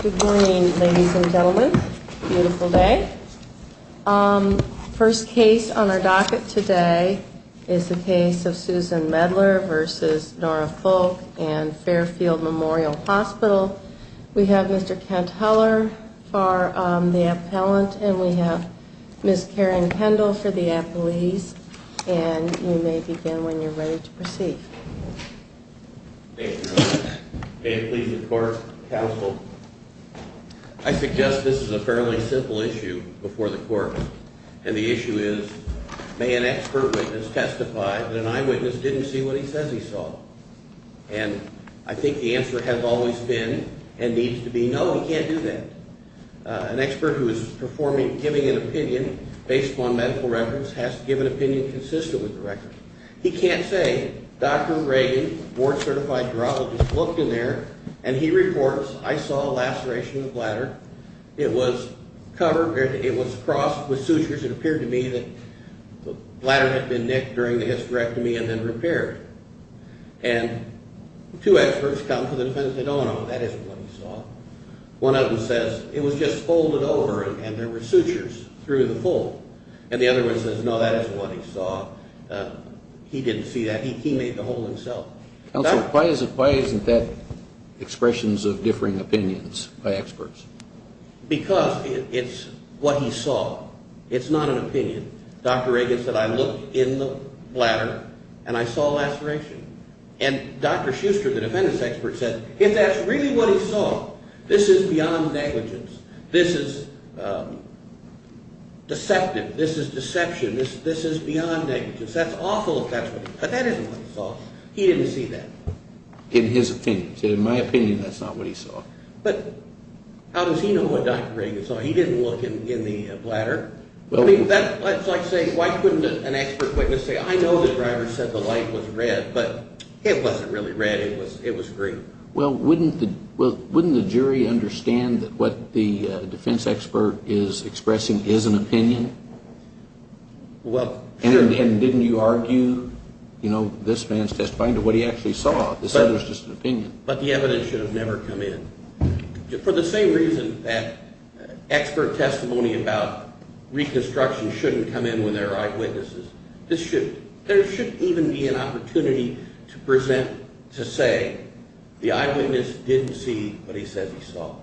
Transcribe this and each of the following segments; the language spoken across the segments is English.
Good morning, ladies and gentlemen. Beautiful day. First case on our docket today is the case of Susan Medler v. Nora Fulk and Fairfield Memorial Hospital. We have Mr. Kent Heller for the appellant, and we have Ms. Karen Kendall for the appellees. And you may begin when you're ready to proceed. May it please the court, counsel. I suggest this is a fairly simple issue before the court, and the issue is may an expert witness testify that an eyewitness didn't see what he says he saw. And I think the answer has always been and needs to be no, he can't do that. An expert who is performing, giving an opinion based upon medical records has to give an opinion consistent with the record. He can't say, Dr. Reagan, board-certified urologist, looked in there, and he reports, I saw a laceration of the bladder. It was covered, it was crossed with sutures. It appeared to me that the bladder had been nicked during the hysterectomy and then repaired. And two experts come to the defense and say, no, no, no, that isn't what he saw. One of them says, it was just folded over and there were sutures through the fold. And the other one says, no, that isn't what he saw. He didn't see that. He made the hole himself. Counsel, why isn't that expressions of differing opinions by experts? Because it's what he saw. It's not an opinion. Dr. Reagan said, I looked in the bladder and I saw a laceration. And Dr. Schuster, the defendant's expert, said, if that's really what he saw, this is beyond negligence. This is deceptive. This is deception. This is beyond negligence. That's awful if that's what he saw. But that isn't what he saw. He didn't see that. In his opinion. He said, in my opinion, that's not what he saw. But how does he know what Dr. Reagan saw? He didn't look in the bladder. I mean, that's like saying, why couldn't an expert witness say, I know the driver said the light was red, but it wasn't really red. It was green. Well, wouldn't the jury understand that what the defense expert is expressing is an opinion? Well, sure. And didn't you argue, you know, this man's testifying to what he actually saw? He said it was just an opinion. But the evidence should have never come in. For the same reason that expert testimony about reconstruction shouldn't come in when there are eyewitnesses. This shouldn't. There shouldn't even be an opportunity to present, to say, the eyewitness didn't see what he said he saw.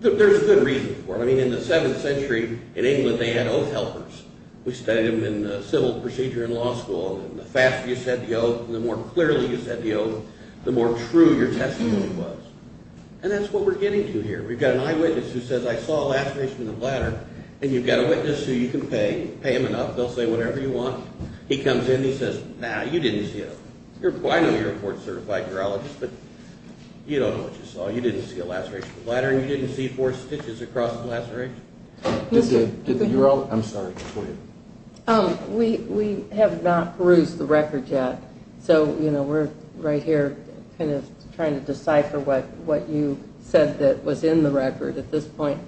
There's good reason for it. I mean, in the 7th century, in England, they had oath helpers. We studied them in civil procedure in law school. And the faster you said the oath, the more clearly you said the oath, the more true your testimony was. And that's what we're getting to here. We've got an eyewitness who says, I saw a laceration in the bladder. And you've got a witness who you can pay. Pay him enough. They'll say whatever you want. He comes in, and he says, nah, you didn't see it. I know you're a board-certified urologist, but you don't know what you saw. You didn't see a laceration in the bladder, and you didn't see four stitches across the laceration? Did the urologist? I'm sorry. We have not perused the record yet. So, you know, we're right here kind of trying to decipher what you said that was in the record at this point.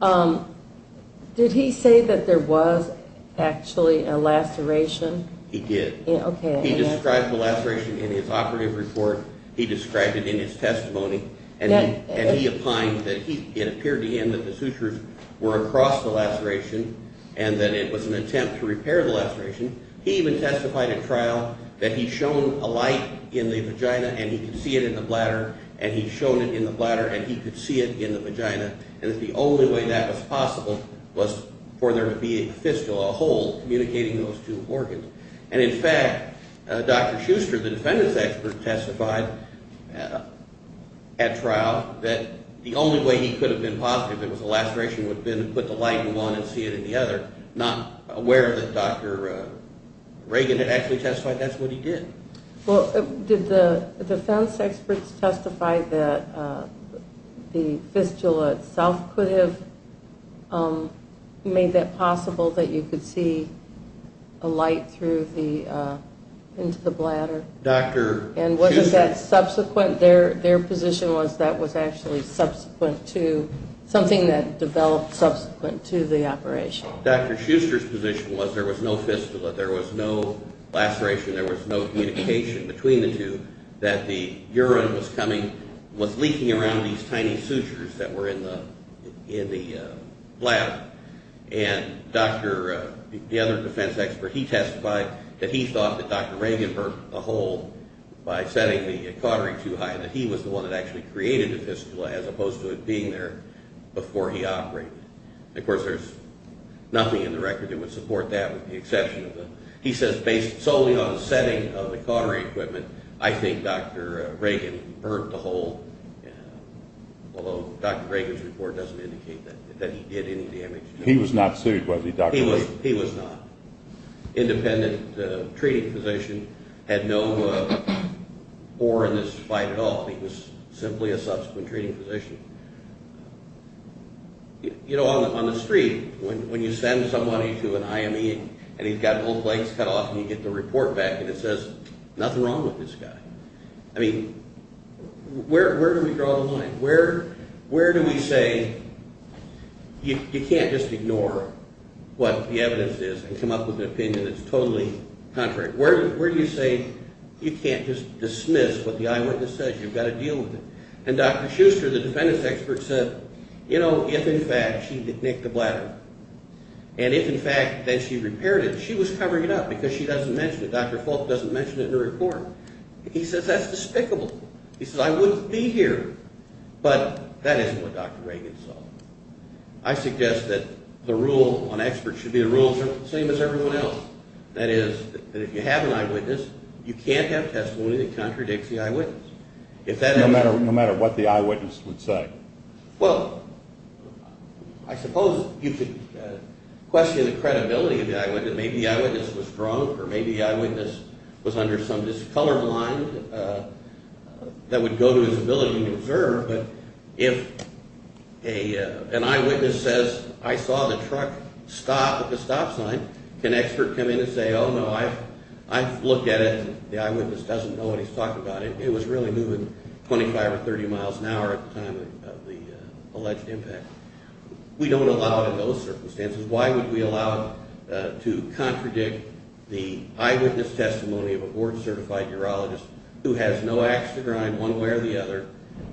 Did he say that there was actually a laceration? He did. He described the laceration in his operative report. He described it in his testimony. And he opined that it appeared to him that the sutures were across the laceration and that it was an attempt to repair the laceration. He even testified at trial that he'd shown a light in the vagina, and he could see it in the bladder. And he'd shown it in the bladder, and he could see it in the vagina. And that the only way that was possible was for there to be a fistula, a hole, communicating those two organs. And, in fact, Dr. Schuster, the defendant's expert, testified at trial that the only way he could have been positive it was a laceration would have been to put the light in one and see it in the other, not aware that Dr. Reagan had actually testified that's what he did. Well, did the defense experts testify that the fistula itself could have made that possible that you could see a light through the, into the bladder? Dr. Schuster. And wasn't that subsequent? Their position was that was actually subsequent to, something that developed subsequent to the operation. Dr. Schuster's position was there was no fistula, there was no laceration, there was no communication between the two, that the urine was coming, was leaking around these tiny sutures that were in the, in the bladder. And Dr., the other defense expert, he testified that he thought that Dr. Reagan burped a hole by setting the cautery too high, that he was the one that actually created the fistula as opposed to it being there before he operated. Of course, there's nothing in the record that would support that with the exception of the, he says based solely on the setting of the cautery equipment, I think Dr. Reagan burped a hole, although Dr. Reagan's report doesn't indicate that he did any damage. He was not sued, was he, Dr. Reagan? He was not. Independent treating physician had no bore in this fight at all. He was simply a subsequent treating physician. You know, on the street, when you send somebody to an IME and he's got both legs cut off and you get the report back and it says nothing wrong with this guy. I mean, where do we draw the line? Where do we say you can't just ignore what the evidence is and come up with an opinion that's totally contrary? Where do you say you can't just dismiss what the eyewitness says? You've got to deal with it. And Dr. Schuster, the defendant's expert, said, you know, if in fact she did nick the bladder, and if in fact then she repaired it, she was covering it up because she doesn't mention it. Dr. Folt doesn't mention it in her report. He says that's despicable. He says I wouldn't be here. But that isn't what Dr. Reagan saw. I suggest that the rule on experts should be the same as everyone else. That is, if you have an eyewitness, you can't have testimony that contradicts the eyewitness. No matter what the eyewitness would say. Well, I suppose you could question the credibility of the eyewitness. Maybe the eyewitness was drunk or maybe the eyewitness was under some discolor blind that would go to his ability to observe. But if an eyewitness says I saw the truck stop at the stop sign, can an expert come in and say, oh, no, I've looked at it. The eyewitness doesn't know what he's talking about. It was really moving 25 or 30 miles an hour at the time of the alleged impact. We don't allow it in those circumstances. Why would we allow it to contradict the eyewitness testimony of a board-certified urologist who has no ax to grind one way or the other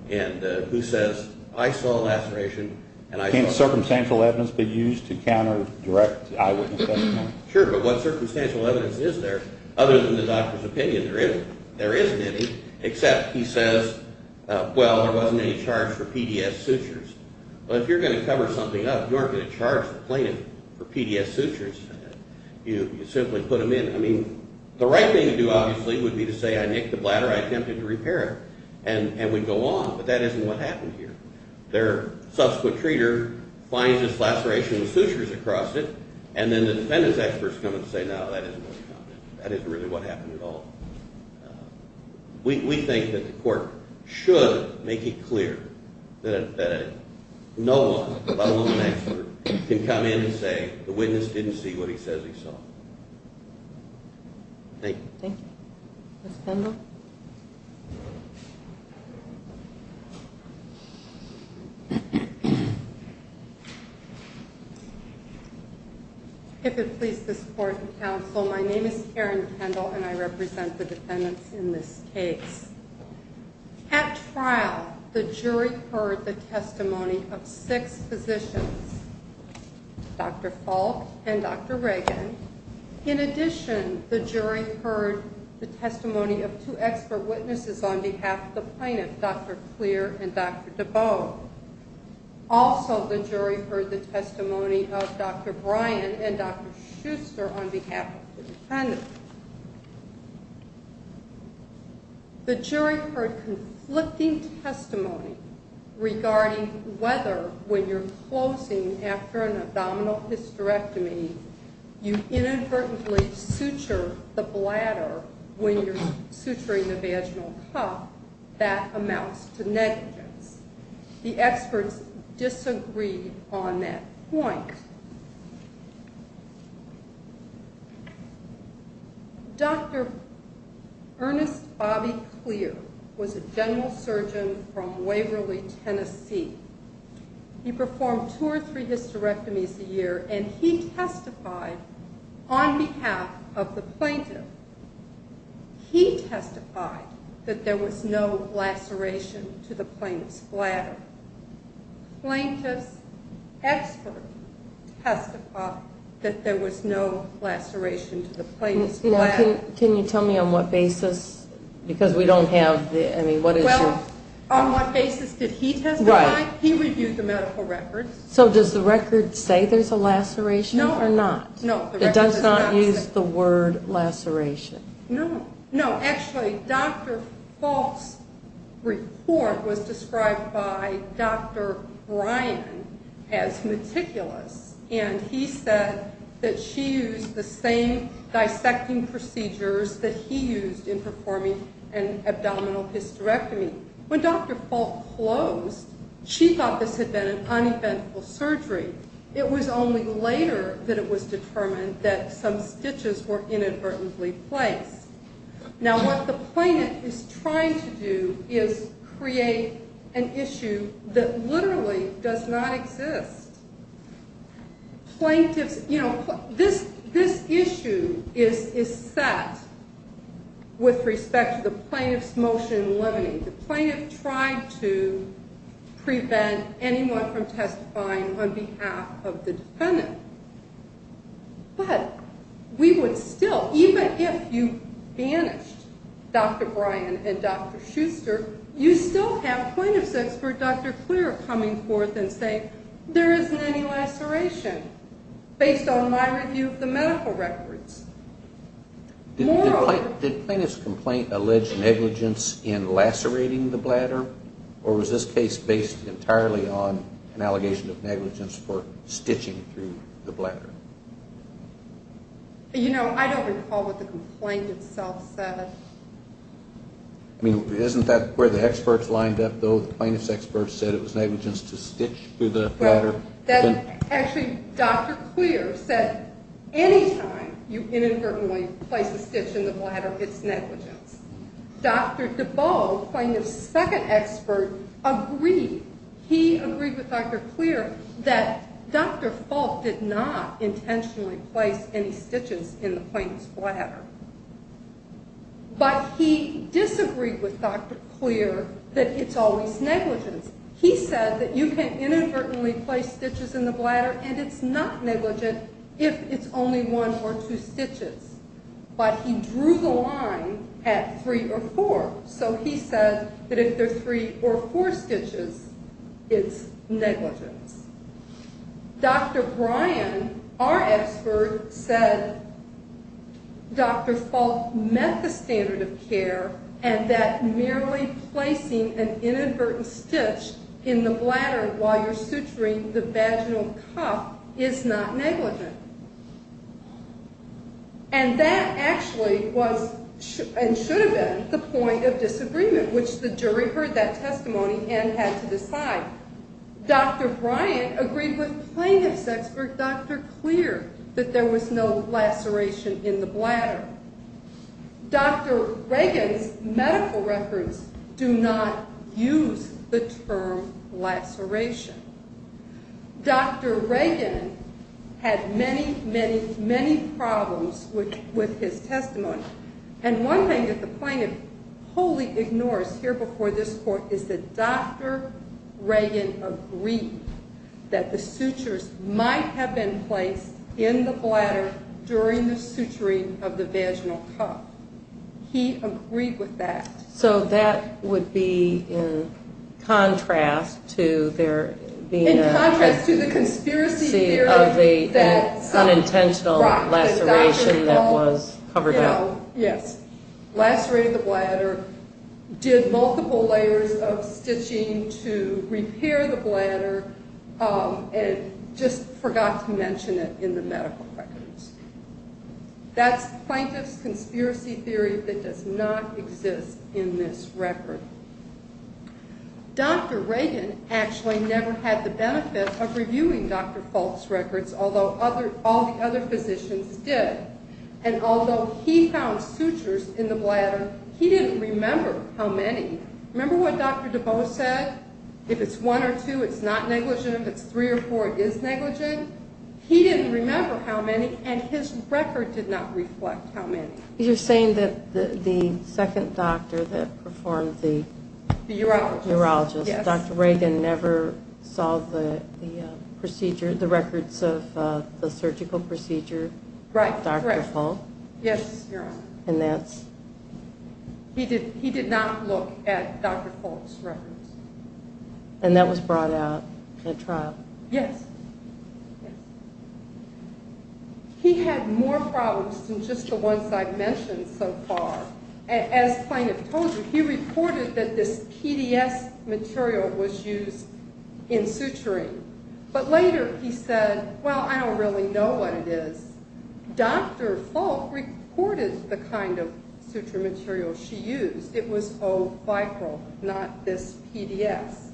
and who says I saw a laceration and I saw it. Can circumstantial evidence be used to counter direct eyewitness testimony? Sure, but what circumstantial evidence is there other than the doctor's opinion? There isn't any, except he says, well, there wasn't any charge for PDS sutures. But if you're going to cover something up, you aren't going to charge the plaintiff for PDS sutures. You simply put them in. I mean, the right thing to do, obviously, would be to say I nicked the bladder, I attempted to repair it, and we'd go on, but that isn't what happened here. Their subsequent treater finds this laceration with sutures across it, and then the defendant's experts come and say, no, that isn't what happened. That isn't really what happened at all. We think that the court should make it clear that no one, let alone an expert, can come in and say the witness didn't see what he says he saw. Thank you. Thank you. Ms. Kendall? If it pleases the support of counsel, my name is Karen Kendall, and I represent the defendants in this case. At trial, the jury heard the testimony of six physicians, Dr. Falk and Dr. Reagan. In addition, the jury heard the testimony of two expert witnesses on behalf of the plaintiff, Dr. Clear and Dr. DeBow. Also, the jury heard the testimony of Dr. Bryan and Dr. Schuster on behalf of the defendant. The jury heard conflicting testimony regarding whether, when you're closing after an abdominal hysterectomy, you inadvertently suture the bladder when you're suturing the vaginal cup. That amounts to negligence. The experts disagreed on that point. Dr. Ernest Bobby Clear was a general surgeon from Waverly, Tennessee. He performed two or three hysterectomies a year, and he testified on behalf of the plaintiff. He testified that there was no laceration to the plaintiff's bladder. The plaintiff's expert testified that there was no laceration to the plaintiff's bladder. Now, can you tell me on what basis? Because we don't have any. Well, on what basis did he testify? Right. He reviewed the medical records. So does the record say there's a laceration or not? No. It does not use the word laceration? No. No, actually, Dr. Falk's report was described by Dr. Bryan as meticulous, and he said that she used the same dissecting procedures that he used in performing an abdominal hysterectomy. When Dr. Falk closed, she thought this had been an uneventful surgery. It was only later that it was determined that some stitches were inadvertently placed. Now, what the plaintiff is trying to do is create an issue that literally does not exist. Plaintiffs, you know, this issue is set with respect to the plaintiff's motion limiting. The plaintiff tried to prevent anyone from testifying on behalf of the defendant. But we would still, even if you banished Dr. Bryan and Dr. Schuster, you still have plaintiff's expert, Dr. Clear, coming forth and saying there isn't any laceration based on my review of the medical records. Did the plaintiff's complaint allege negligence in lacerating the bladder, or was this case based entirely on an allegation of negligence for stitching through the bladder? You know, I don't recall what the complaint itself said. I mean, isn't that where the experts lined up, though? The plaintiff's experts said it was negligence to stitch through the bladder. Actually, Dr. Clear said any time you inadvertently place a stitch in the bladder, it's negligence. Dr. DeBow, plaintiff's second expert, agreed. He agreed with Dr. Clear that Dr. Falk did not intentionally place any stitches in the plaintiff's bladder. But he disagreed with Dr. Clear that it's always negligence. He said that you can inadvertently place stitches in the bladder, and it's not negligence if it's only one or two stitches. But he drew the line at three or four. So he said that if there are three or four stitches, it's negligence. Dr. Bryan, our expert, said Dr. Falk met the standard of care and that merely placing an inadvertent stitch in the bladder while you're suturing the vaginal cuff is not negligent. And that actually was and should have been the point of disagreement, which the jury heard that testimony and had to decide. Dr. Bryan agreed with plaintiff's expert, Dr. Clear, that there was no laceration in the bladder. Dr. Reagan's medical records do not use the term laceration. Dr. Reagan had many, many, many problems with his testimony. And one thing that the plaintiff wholly ignores here before this court is that Dr. Reagan agreed that the sutures might have been placed in the bladder during the suturing of the vaginal cuff. He agreed with that. So that would be in contrast to there being a conspiracy of the unintentional laceration that was covered up. Yes, lacerated the bladder, did multiple layers of stitching to repair the bladder, and just forgot to mention it in the medical records. That's the plaintiff's conspiracy theory that does not exist in this record. Dr. Reagan actually never had the benefit of reviewing Dr. Falk's records, although all the other physicians did. And although he found sutures in the bladder, he didn't remember how many. Remember what Dr. DeBose said? If it's one or two, it's not negligent. If it's three or four, it is negligent. He didn't remember how many, and his record did not reflect how many. You're saying that the second doctor that performed the... The urologist. Urologist. Yes. Dr. Reagan never saw the procedure, the records of the surgical procedure. Right, correct. Dr. Falk. Yes, Your Honor. And that's... He did not look at Dr. Falk's records. And that was brought out at trial. Yes. He had more problems than just the ones I've mentioned so far. As plaintiff told you, he reported that this PDS material was used in suturing. But later he said, well, I don't really know what it is. Dr. Falk reported the kind of suture material she used. It was O-vipral, not this PDS.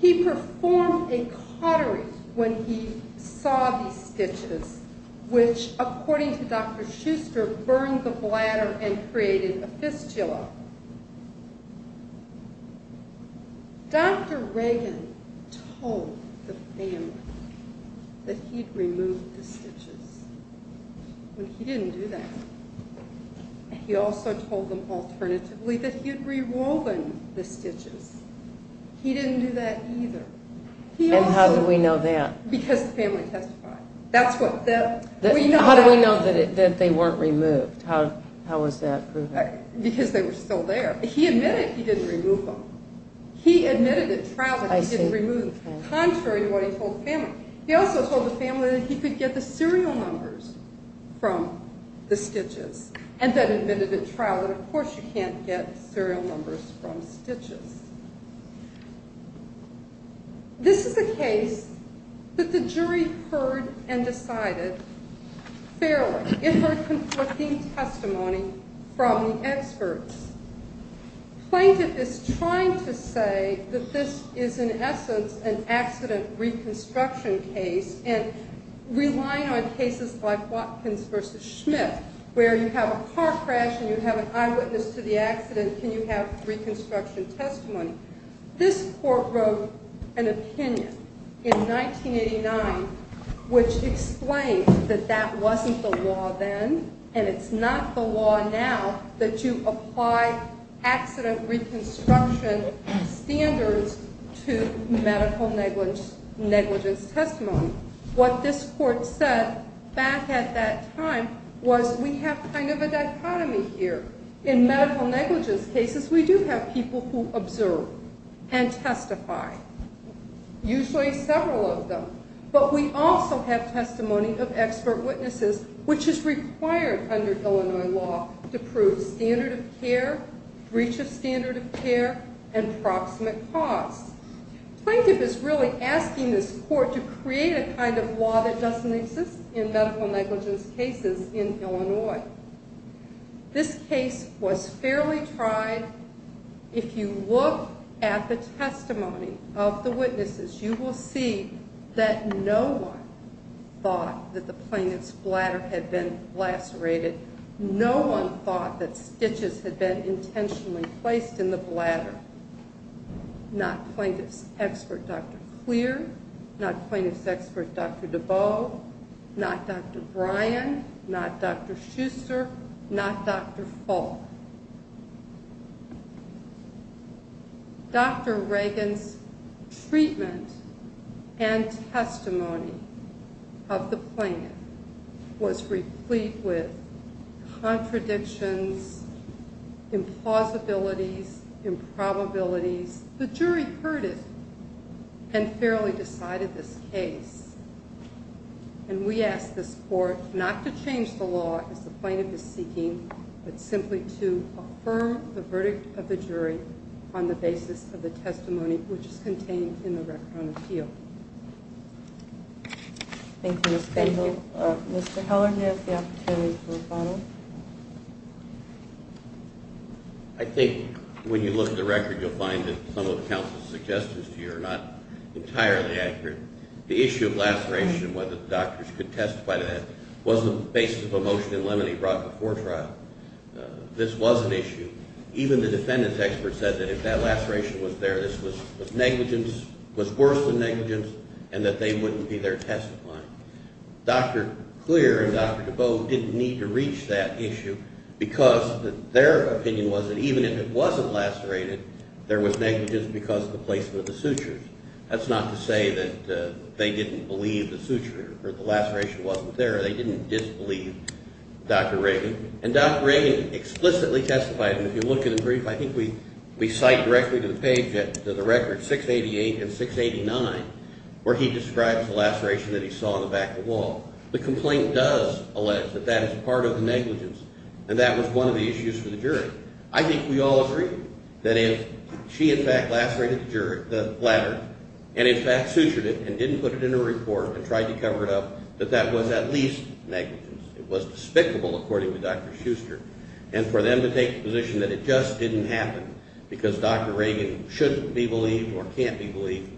He performed a cautery when he saw these stitches, which, according to Dr. Schuster, burned the bladder and created a fistula. Dr. Reagan told the family that he'd removed the stitches. But he didn't do that. He also told them alternatively that he had rewoven the stitches. He didn't do that either. And how do we know that? Because the family testified. How do we know that they weren't removed? How is that proven? Because they were still there. He admitted he didn't remove them. He admitted at trial that he didn't remove them, contrary to what he told the family. He also told the family that he could get the serial numbers from the stitches, and then admitted at trial that, of course, you can't get serial numbers from stitches. This is a case that the jury heard and decided fairly. Plaintiff is trying to say that this is, in essence, an accident reconstruction case, and relying on cases like Watkins v. Schmidt, where you have a car crash and you have an eyewitness to the accident, can you have reconstruction testimony? This court wrote an opinion in 1989 which explained that that wasn't the law then, and it's not the law now that you apply accident reconstruction standards to medical negligence testimony. What this court said back at that time was we have kind of a dichotomy here. In medical negligence cases, we do have people who observe and testify, usually several of them, but we also have testimony of expert witnesses, which is required under Illinois law to prove standard of care, breach of standard of care, and proximate cause. Plaintiff is really asking this court to create a kind of law that doesn't exist in medical negligence cases in Illinois. This case was fairly tried. If you look at the testimony of the witnesses, you will see that no one thought that the plaintiff's bladder had been lacerated. No one thought that stitches had been intentionally placed in the bladder. Not plaintiff's expert, Dr. Clear, not plaintiff's expert, Dr. DeBow, not Dr. Bryan, not Dr. Schuster, not Dr. Falk. Dr. Reagan's treatment and testimony of the plaintiff was replete with contradictions, implausibilities, improbabilities. The jury heard it and fairly decided this case. And we ask this court not to change the law, as the plaintiff is seeking, but simply to affirm the verdict of the jury on the basis of the testimony, which is contained in the record on appeal. Thank you, Ms. Spangler. Mr. Heller, do you have the opportunity for a follow-up? I think when you look at the record, you'll find that some of the counsel's suggestions to you are not entirely accurate. The issue of laceration, whether the doctors could testify to that, was the basis of a motion in limine brought before trial. This was an issue. Even the defendant's expert said that if that laceration was there, this was negligence, was worse than negligence, and that they wouldn't be there testifying. Dr. Clear and Dr. DeBow didn't need to reach that issue because their opinion was that even if it wasn't lacerated, there was negligence because of the placement of the sutures. That's not to say that they didn't believe the suture or the laceration wasn't there. They didn't disbelieve Dr. Reagan, and Dr. Reagan explicitly testified, and if you look at the brief, I think we cite directly to the page, to the record 688 and 689, where he describes the laceration that he saw on the back of the wall. The complaint does allege that that is part of the negligence, and that was one of the issues for the jury. I think we all agree that if she, in fact, lacerated the bladder and, in fact, sutured it and didn't put it in a report and tried to cover it up, that that was at least negligence. It was despicable, according to Dr. Schuster, and for them to take the position that it just didn't happen because Dr. Reagan shouldn't be believed or can't be believed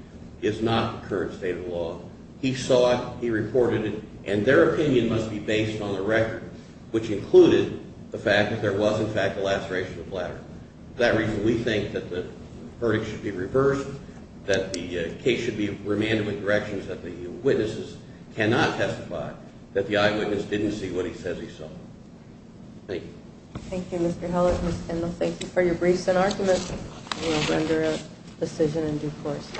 is not the current state of the law. He saw it, he reported it, and their opinion must be based on the record, which included the fact that there was, in fact, a laceration of the bladder. For that reason, we think that the verdict should be reversed, that the case should be remanded with directions that the witnesses cannot testify, that the eyewitness didn't see what he says he saw. Thank you. Thank you, Mr. Heller. Ms. Kendall, thank you for your briefs and arguments. We will render a decision in due course.